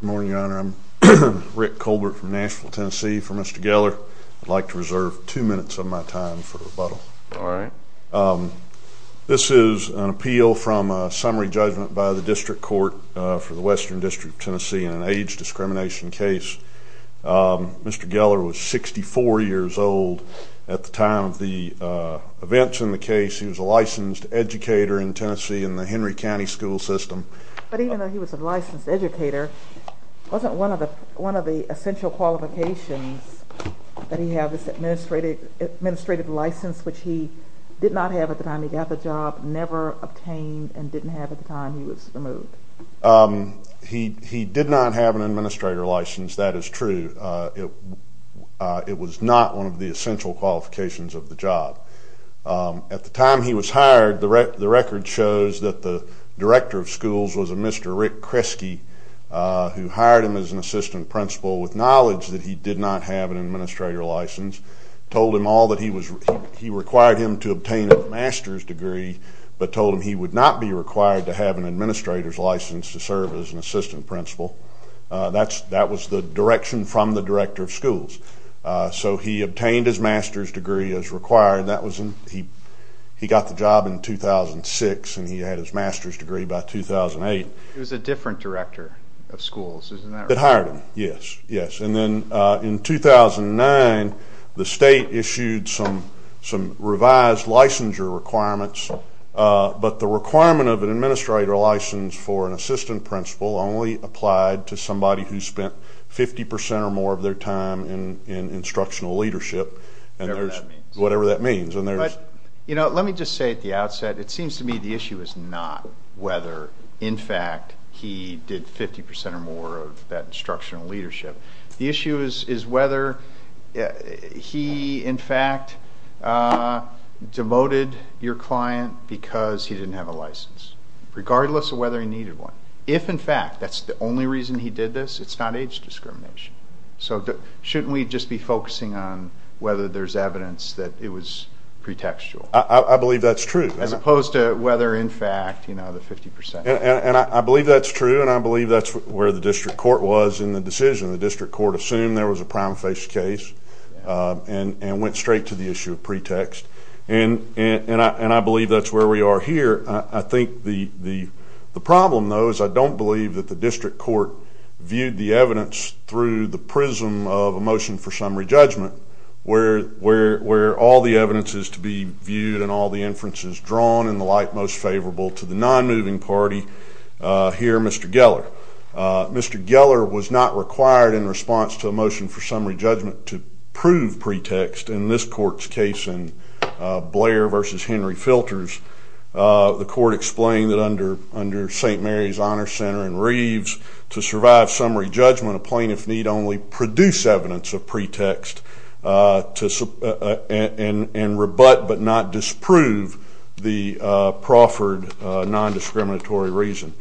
Good morning, Your Honor. I'm Rick Colbert from Nashville, Tennessee for Mr. Geller. I'd like to reserve two minutes of my time for rebuttal. All right. This is an appeal from a summary judgment by the district court for the Western District of Tennessee in an age discrimination case. Mr. Geller was 64 years old at the time of the events in the case. He was a licensed educator in Tennessee in the Henry County school system. But even though he was a licensed educator, wasn't one of the essential qualifications that he have is an administrative license, which he did not have at the time he got the job, never obtained, and didn't have at the time he was removed? He did not have an administrator license. That is true. It was not one of the essential qualifications of the job. At the time he was hired, the record shows that the director of schools was a Mr. Rick Kresge, who hired him as an assistant principal with knowledge that he did not have an administrator license, told him all that he required him to obtain a master's degree, but told him he would not be required to have an administrator's license to serve as an assistant principal. So he obtained his master's degree as required. He got the job in 2006, and he had his master's degree by 2008. He was a different director of schools, isn't that right? That hired him, yes. And then in 2009, the state issued some revised licensure requirements, but the requirement of an administrator license for an assistant principal only applied to somebody who spent 50 percent or more of their time in instructional leadership, whatever that means. Let me just say at the outset, it seems to me the issue is not whether, in fact, he did 50 percent or more of that instructional leadership. The issue is whether he, in fact, demoted your client because he didn't have a license, regardless of whether he needed one. If, in fact, that's the only reason he did this, it's not age discrimination. So shouldn't we just be focusing on whether there's evidence that it was pretextual? I believe that's true. As opposed to whether, in fact, the 50 percent. And I believe that's true, and I believe that's where the district court was in the decision. The district court assumed there was a prima facie case and went straight to the issue of pretext, and I believe that's where we are here. I think the problem, though, is I don't believe that the district court viewed the evidence through the prism of a motion for summary judgment, where all the evidence is to be viewed and all the inference is drawn in the light most favorable to the nonmoving party here, Mr. Geller. Mr. Geller was not required in response to a motion for summary judgment to prove pretext. In this court's case in Blair v. Henry Filters, the court explained that under St. Mary's Honor Center and Reeves, to survive summary judgment, a plaintiff need only produce evidence of pretext and rebut but not disprove the proffered nondiscriminatory reason.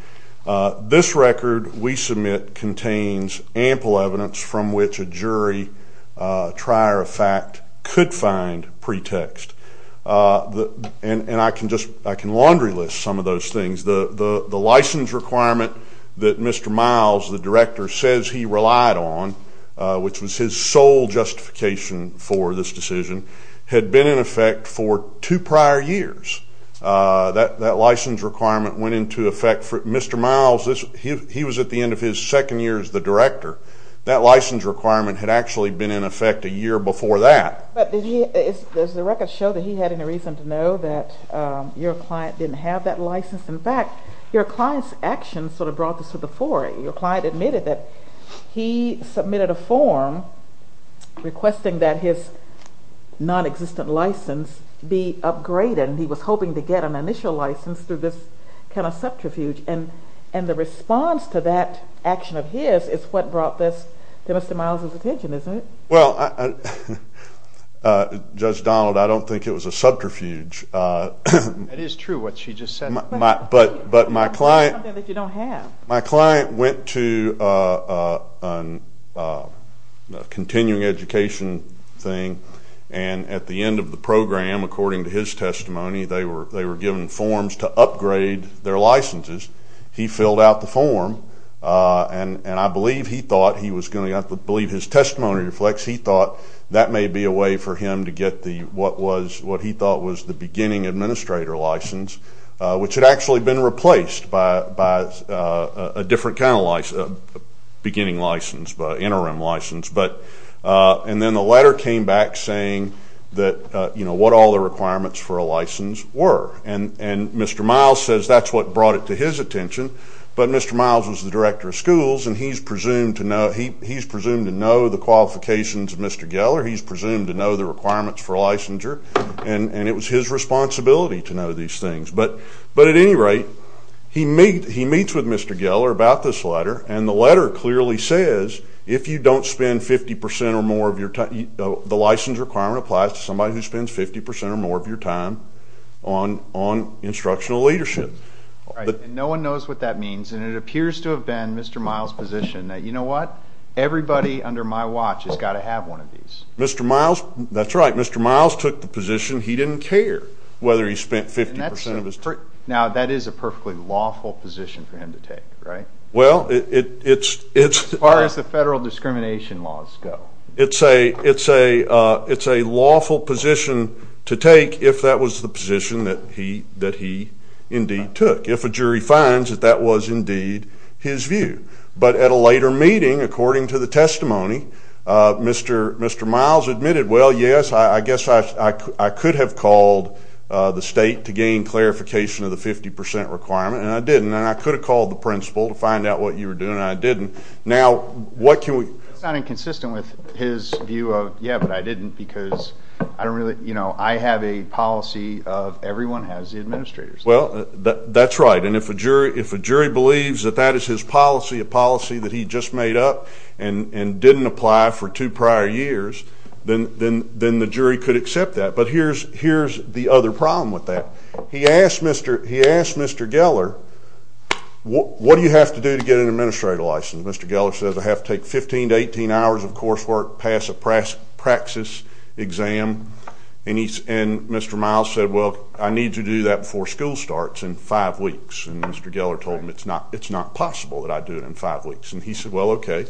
This record we submit contains ample evidence from which a jury, try or effect, could find pretext. And I can laundry list some of those things. The license requirement that Mr. Miles, the director, says he relied on, which was his sole justification for this decision, had been in effect for two prior years. That license requirement went into effect for Mr. Miles. He was at the end of his second year as the director. That license requirement had actually been in effect a year before that. But does the record show that he had any reason to know that your client didn't have that license? In fact, your client's actions sort of brought this to the fore. Your client admitted that he submitted a form requesting that his nonexistent license be upgraded. And he was hoping to get an initial license through this kind of subterfuge. And the response to that action of his is what brought this to Mr. Miles' attention, isn't it? Well, Judge Donald, I don't think it was a subterfuge. It is true what she just said. But my client went to a continuing education thing. And at the end of the program, according to his testimony, they were given forms to upgrade their licenses. He filled out the form. And I believe he thought he was going to have to believe his testimony reflects he thought that may be a way for him to get what he thought was the beginning administrator license, which had actually been replaced by a different kind of beginning license, interim license. And then the letter came back saying what all the requirements for a license were. And Mr. Miles says that's what brought it to his attention. But Mr. Miles was the director of schools, and he's presumed to know the qualifications of Mr. Geller. He's presumed to know the requirements for a licensure. And it was his responsibility to know these things. But at any rate, he meets with Mr. Geller about this letter. And the letter clearly says if you don't spend 50% or more of your time, the license requirement applies to somebody who spends 50% or more of your time on instructional leadership. All right, and no one knows what that means. And it appears to have been Mr. Miles' position that, you know what, everybody under my watch has got to have one of these. That's right. Mr. Miles took the position he didn't care whether he spent 50% of his time. Now, that is a perfectly lawful position for him to take, right? Well, it's- As far as the federal discrimination laws go. It's a lawful position to take if that was the position that he indeed took, if a jury finds that that was indeed his view. But at a later meeting, according to the testimony, Mr. Miles admitted, well, yes, I guess I could have called the state to gain clarification of the 50% requirement, and I didn't. And I could have called the principal to find out what you were doing, and I didn't. Now, what can we- That's not inconsistent with his view of, yeah, but I didn't because I don't really- you know, I have a policy of everyone has the administrators. Well, that's right. And if a jury believes that that is his policy, a policy that he just made up and didn't apply for two prior years, then the jury could accept that. But here's the other problem with that. He asked Mr. Geller, what do you have to do to get an administrative license? Mr. Geller says, I have to take 15 to 18 hours of coursework, pass a praxis exam. And Mr. Miles said, well, I need to do that before school starts in five weeks. And Mr. Geller told him, it's not possible that I do it in five weeks. And he said, well, okay,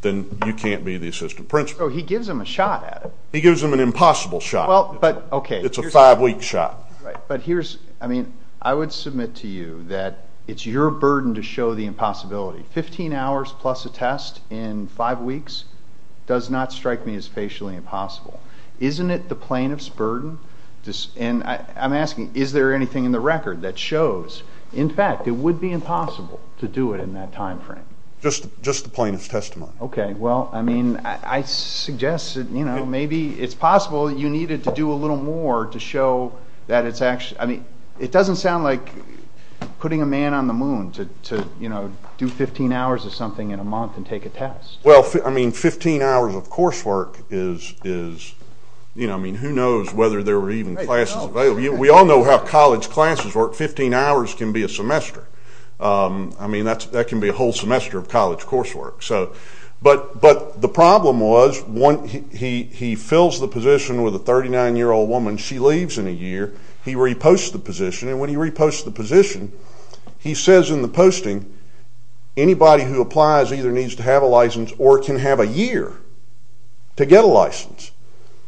then you can't be the assistant principal. So he gives him a shot at it. He gives him an impossible shot. Well, but- It's a five-week shot. Right. But here's-I mean, I would submit to you that it's your burden to show the impossibility. Fifteen hours plus a test in five weeks does not strike me as facially impossible. Isn't it the plaintiff's burden? And I'm asking, is there anything in the record that shows, in fact, it would be impossible to do it in that time frame? Just the plaintiff's testimony. Okay. Well, I mean, I suggest, you know, maybe it's possible you needed to do a little more to show that it's actually-I mean, it doesn't sound like putting a man on the moon to, you know, do 15 hours of something in a month and take a test. Well, I mean, 15 hours of coursework is-you know, I mean, who knows whether there were even classes- We all know how college classes work. Fifteen hours can be a semester. I mean, that can be a whole semester of college coursework. So-but the problem was he fills the position with a 39-year-old woman. She leaves in a year. He reposts the position, and when he reposts the position, he says in the posting, anybody who applies either needs to have a license or can have a year to get a license.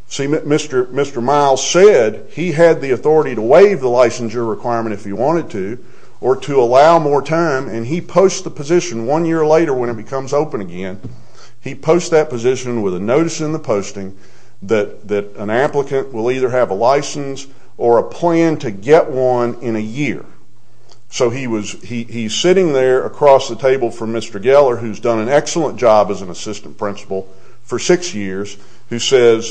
See, Mr. Miles said he had the authority to waive the licensure requirement if he wanted to or to allow more time, and he posts the position one year later when it becomes open again. He posts that position with a notice in the posting that an applicant will either have a license or a plan to get one in a year. So he was-he's sitting there across the table from Mr. Geller, who's done an excellent job as an assistant principal for six years, who says,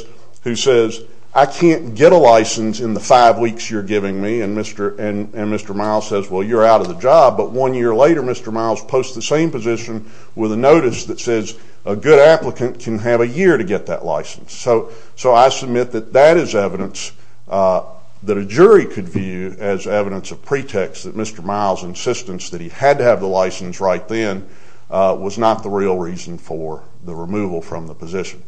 I can't get a license in the five weeks you're giving me, and Mr. Miles says, well, you're out of the job. But one year later, Mr. Miles posts the same position with a notice that says a good applicant can have a year to get that license. So I submit that that is evidence that a jury could view as evidence of pretext that Mr. Miles' insistence that he had to have the license right then was not the real reason for the removal from the position.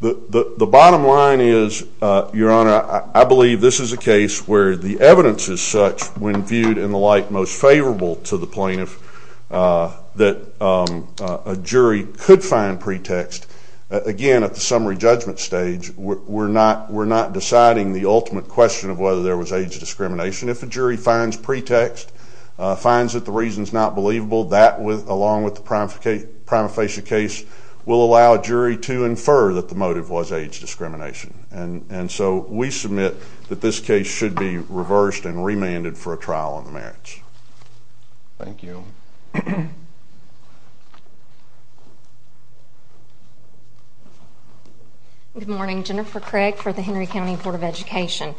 The bottom line is, Your Honor, I believe this is a case where the evidence is such, when viewed in the light most favorable to the plaintiff, that a jury could find pretext. Again, at the summary judgment stage, we're not deciding the ultimate question of whether there was age discrimination. If a jury finds pretext, finds that the reason's not believable, that, along with the prima facie case, will allow a jury to infer that the motive was age discrimination. And so we submit that this case should be reversed and remanded for a trial on the merits. Thank you. Good morning. Jennifer Craig for the Henry County Board of Education.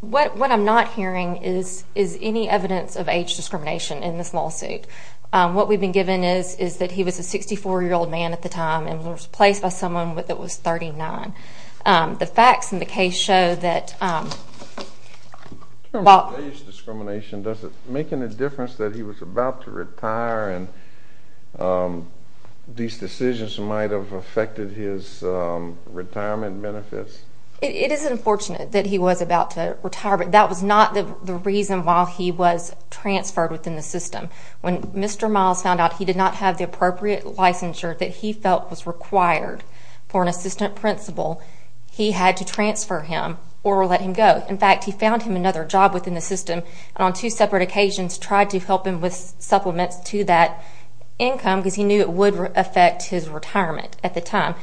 What I'm not hearing is any evidence of age discrimination in this lawsuit. What we've been given is that he was a 64-year-old man at the time and was placed by someone that was 39. The facts in the case show that while- In terms of age discrimination, does it make any difference that he was about to retire and these decisions might have affected his retirement benefits? It is unfortunate that he was about to retire, but that was not the reason why he was transferred within the system. When Mr. Miles found out he did not have the appropriate licensure that he felt was required for an assistant principal, he had to transfer him or let him go. In fact, he found him another job within the system and, on two separate occasions, tried to help him with supplements to that income because he knew it would affect his retirement at the time.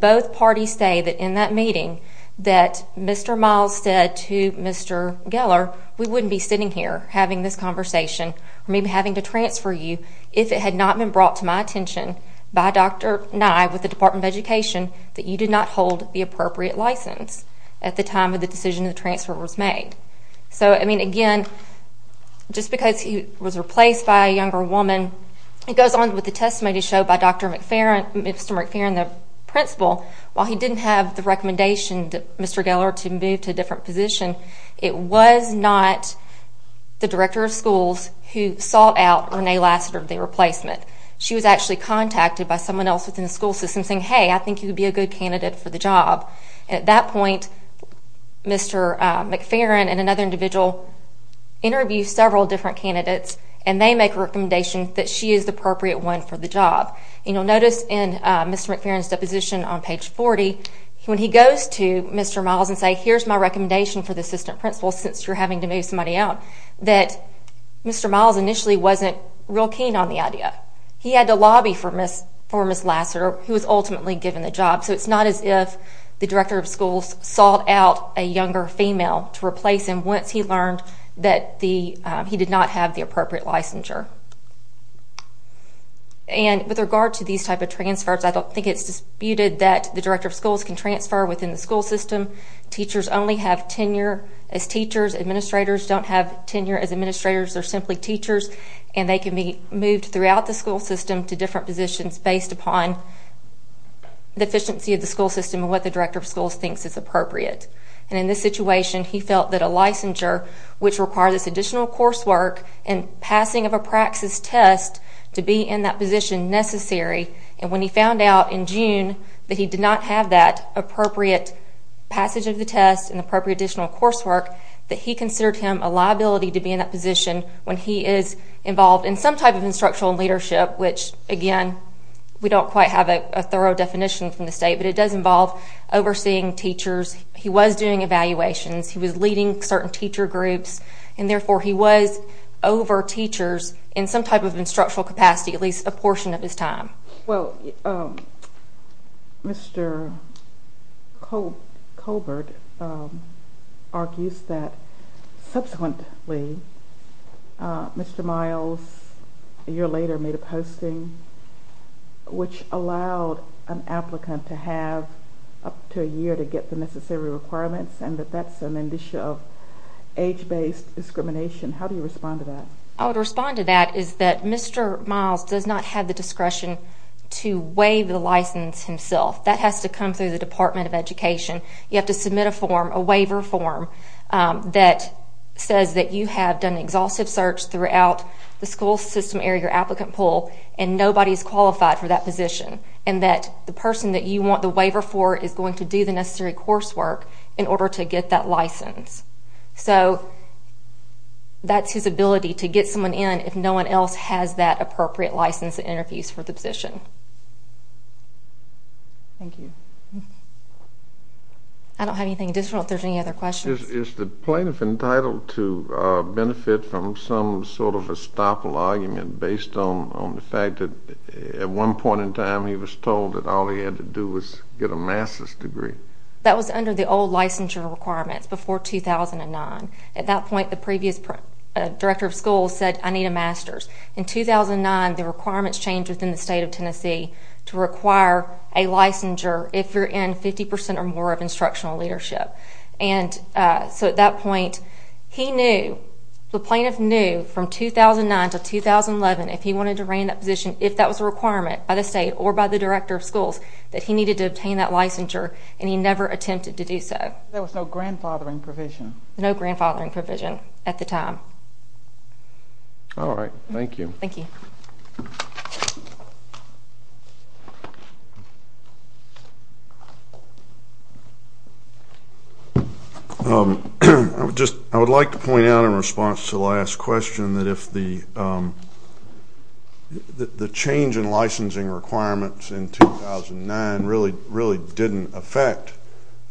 Both parties stated in that meeting that Mr. Miles said to Mr. Geller, we wouldn't be sitting here having this conversation or maybe having to transfer you if it had not been brought to my attention by Dr. Nye with the Department of Education that you did not hold the appropriate license at the time of the decision the transfer was made. Again, just because he was replaced by a younger woman, it goes on with the testimony showed by Dr. McFerrin, Mr. McFerrin, the principal. While he didn't have the recommendation, Mr. Geller, to move to a different position, it was not the director of schools who sought out Renee Lassiter, the replacement. She was actually contacted by someone else within the school system saying, hey, I think you would be a good candidate for the job. At that point, Mr. McFerrin and another individual interviewed several different candidates and they make a recommendation that she is the appropriate one for the job. Notice in Mr. McFerrin's deposition on page 40, when he goes to Mr. Miles and says, here's my recommendation for the assistant principal since you're having to move somebody out, that Mr. Miles initially wasn't real keen on the idea. He had to lobby for Ms. Lassiter who was ultimately given the job. So it's not as if the director of schools sought out a younger female to replace him once he learned that he did not have the appropriate licensure. And with regard to these type of transfers, I don't think it's disputed that the director of schools can transfer within the school system. Teachers only have tenure as teachers. Administrators don't have tenure as administrators. They're simply teachers, and they can be moved throughout the school system to different positions based upon the efficiency of the school system and what the director of schools thinks is appropriate. And in this situation, he felt that a licensure, which required this additional coursework and passing of a praxis test to be in that position necessary, and when he found out in June that he did not have that appropriate passage of the test and appropriate additional coursework, that he considered him a liability to be in that position when he is involved in some type of instructional leadership, which, again, we don't quite have a thorough definition from the state, but it does involve overseeing teachers. He was doing evaluations. He was leading certain teacher groups, and therefore he was over teachers in some type of instructional capacity at least a portion of his time. Well, Mr. Colbert argues that subsequently Mr. Miles, a year later, made a posting which allowed an applicant to have up to a year to get the necessary requirements and that that's an issue of age-based discrimination. How do you respond to that? How I would respond to that is that Mr. Miles does not have the discretion to waive the license himself. That has to come through the Department of Education. You have to submit a form, a waiver form, that says that you have done an exhaustive search throughout the school system area, your applicant pool, and nobody is qualified for that position and that the person that you want the waiver for is going to do the necessary coursework in order to get that license. So that's his ability to get someone in if no one else has that appropriate license and interviews for the position. Thank you. I don't have anything additional if there's any other questions. Is the plaintiff entitled to benefit from some sort of estoppel argument based on the fact that at one point in time he was told that all he had to do was get a master's degree? That was under the old licensure requirements before 2009. At that point, the previous director of schools said, I need a master's. In 2009, the requirements changed within the state of Tennessee to require a licensure if you're in 50% or more of instructional leadership. So at that point, he knew, the plaintiff knew from 2009 to 2011, if he wanted to reign that position, if that was a requirement by the state or by the director of schools, that he needed to obtain that licensure, and he never attempted to do so. There was no grandfathering provision? No grandfathering provision at the time. All right. Thank you. Thank you. I would like to point out in response to the last question that if the change in licensing requirements in 2009 really didn't affect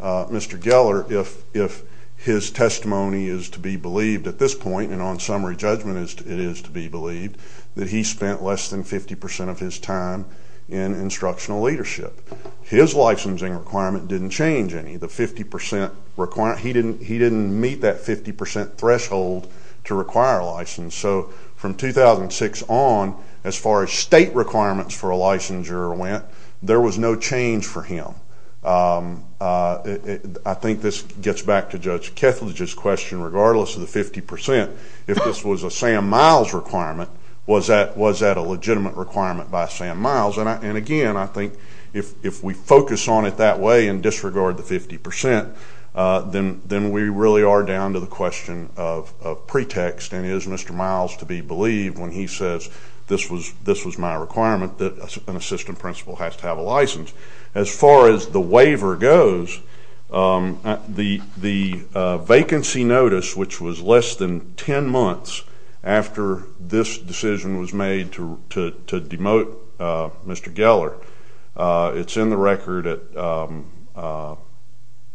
Mr. Geller, if his testimony is to be believed at this point, and on summary judgment it is to be believed, that he spent less than 50% of his time in instructional leadership. His licensing requirement didn't change any. The 50% requirement, he didn't meet that 50% threshold to require a license. So from 2006 on, as far as state requirements for a licensure went, there was no change for him. I think this gets back to Judge Kethledge's question, regardless of the 50%, if this was a Sam Miles requirement, was that a legitimate requirement by Sam Miles? And, again, I think if we focus on it that way and disregard the 50%, then we really are down to the question of pretext, and is Mr. Miles to be believed when he says this was my requirement, that an assistant principal has to have a license? As far as the waiver goes, the vacancy notice, which was less than 10 months after this decision was made to demote Mr. Geller, it's in the record at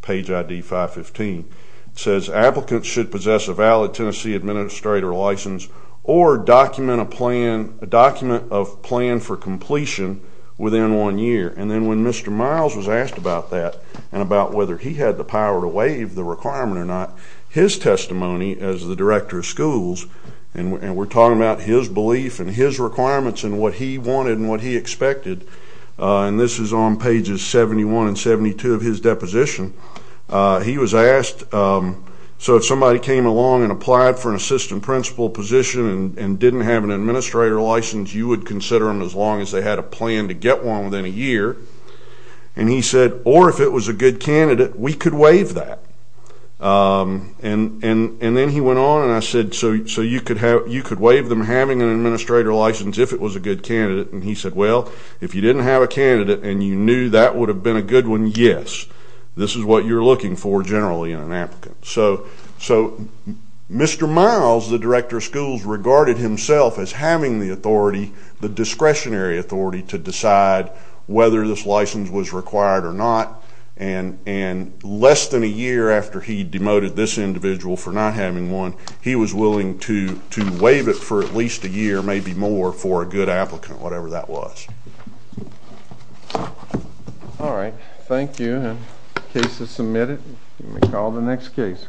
page ID 515. It says applicants should possess a valid Tennessee administrator license or document a plan, a document of plan for completion within one year. And then when Mr. Miles was asked about that and about whether he had the power to waive the requirement or not, his testimony as the director of schools, and we're talking about his belief and his requirements and what he wanted and what he expected, and this is on pages 71 and 72 of his deposition, he was asked, so if somebody came along and applied for an assistant principal position and didn't have an administrator license, you would consider them as long as they had a plan to get one within a year. And he said, or if it was a good candidate, we could waive that. And then he went on and I said, so you could waive them having an administrator license if it was a good candidate? And he said, well, if you didn't have a candidate and you knew that would have been a good one, yes. This is what you're looking for generally in an applicant. So Mr. Miles, the director of schools, regarded himself as having the authority, the discretionary authority to decide whether this license was required or not, and less than a year after he demoted this individual for not having one, he was willing to waive it for at least a year, maybe more, for a good applicant, whatever that was. All right. Thank you. The case is submitted. You may call the next case.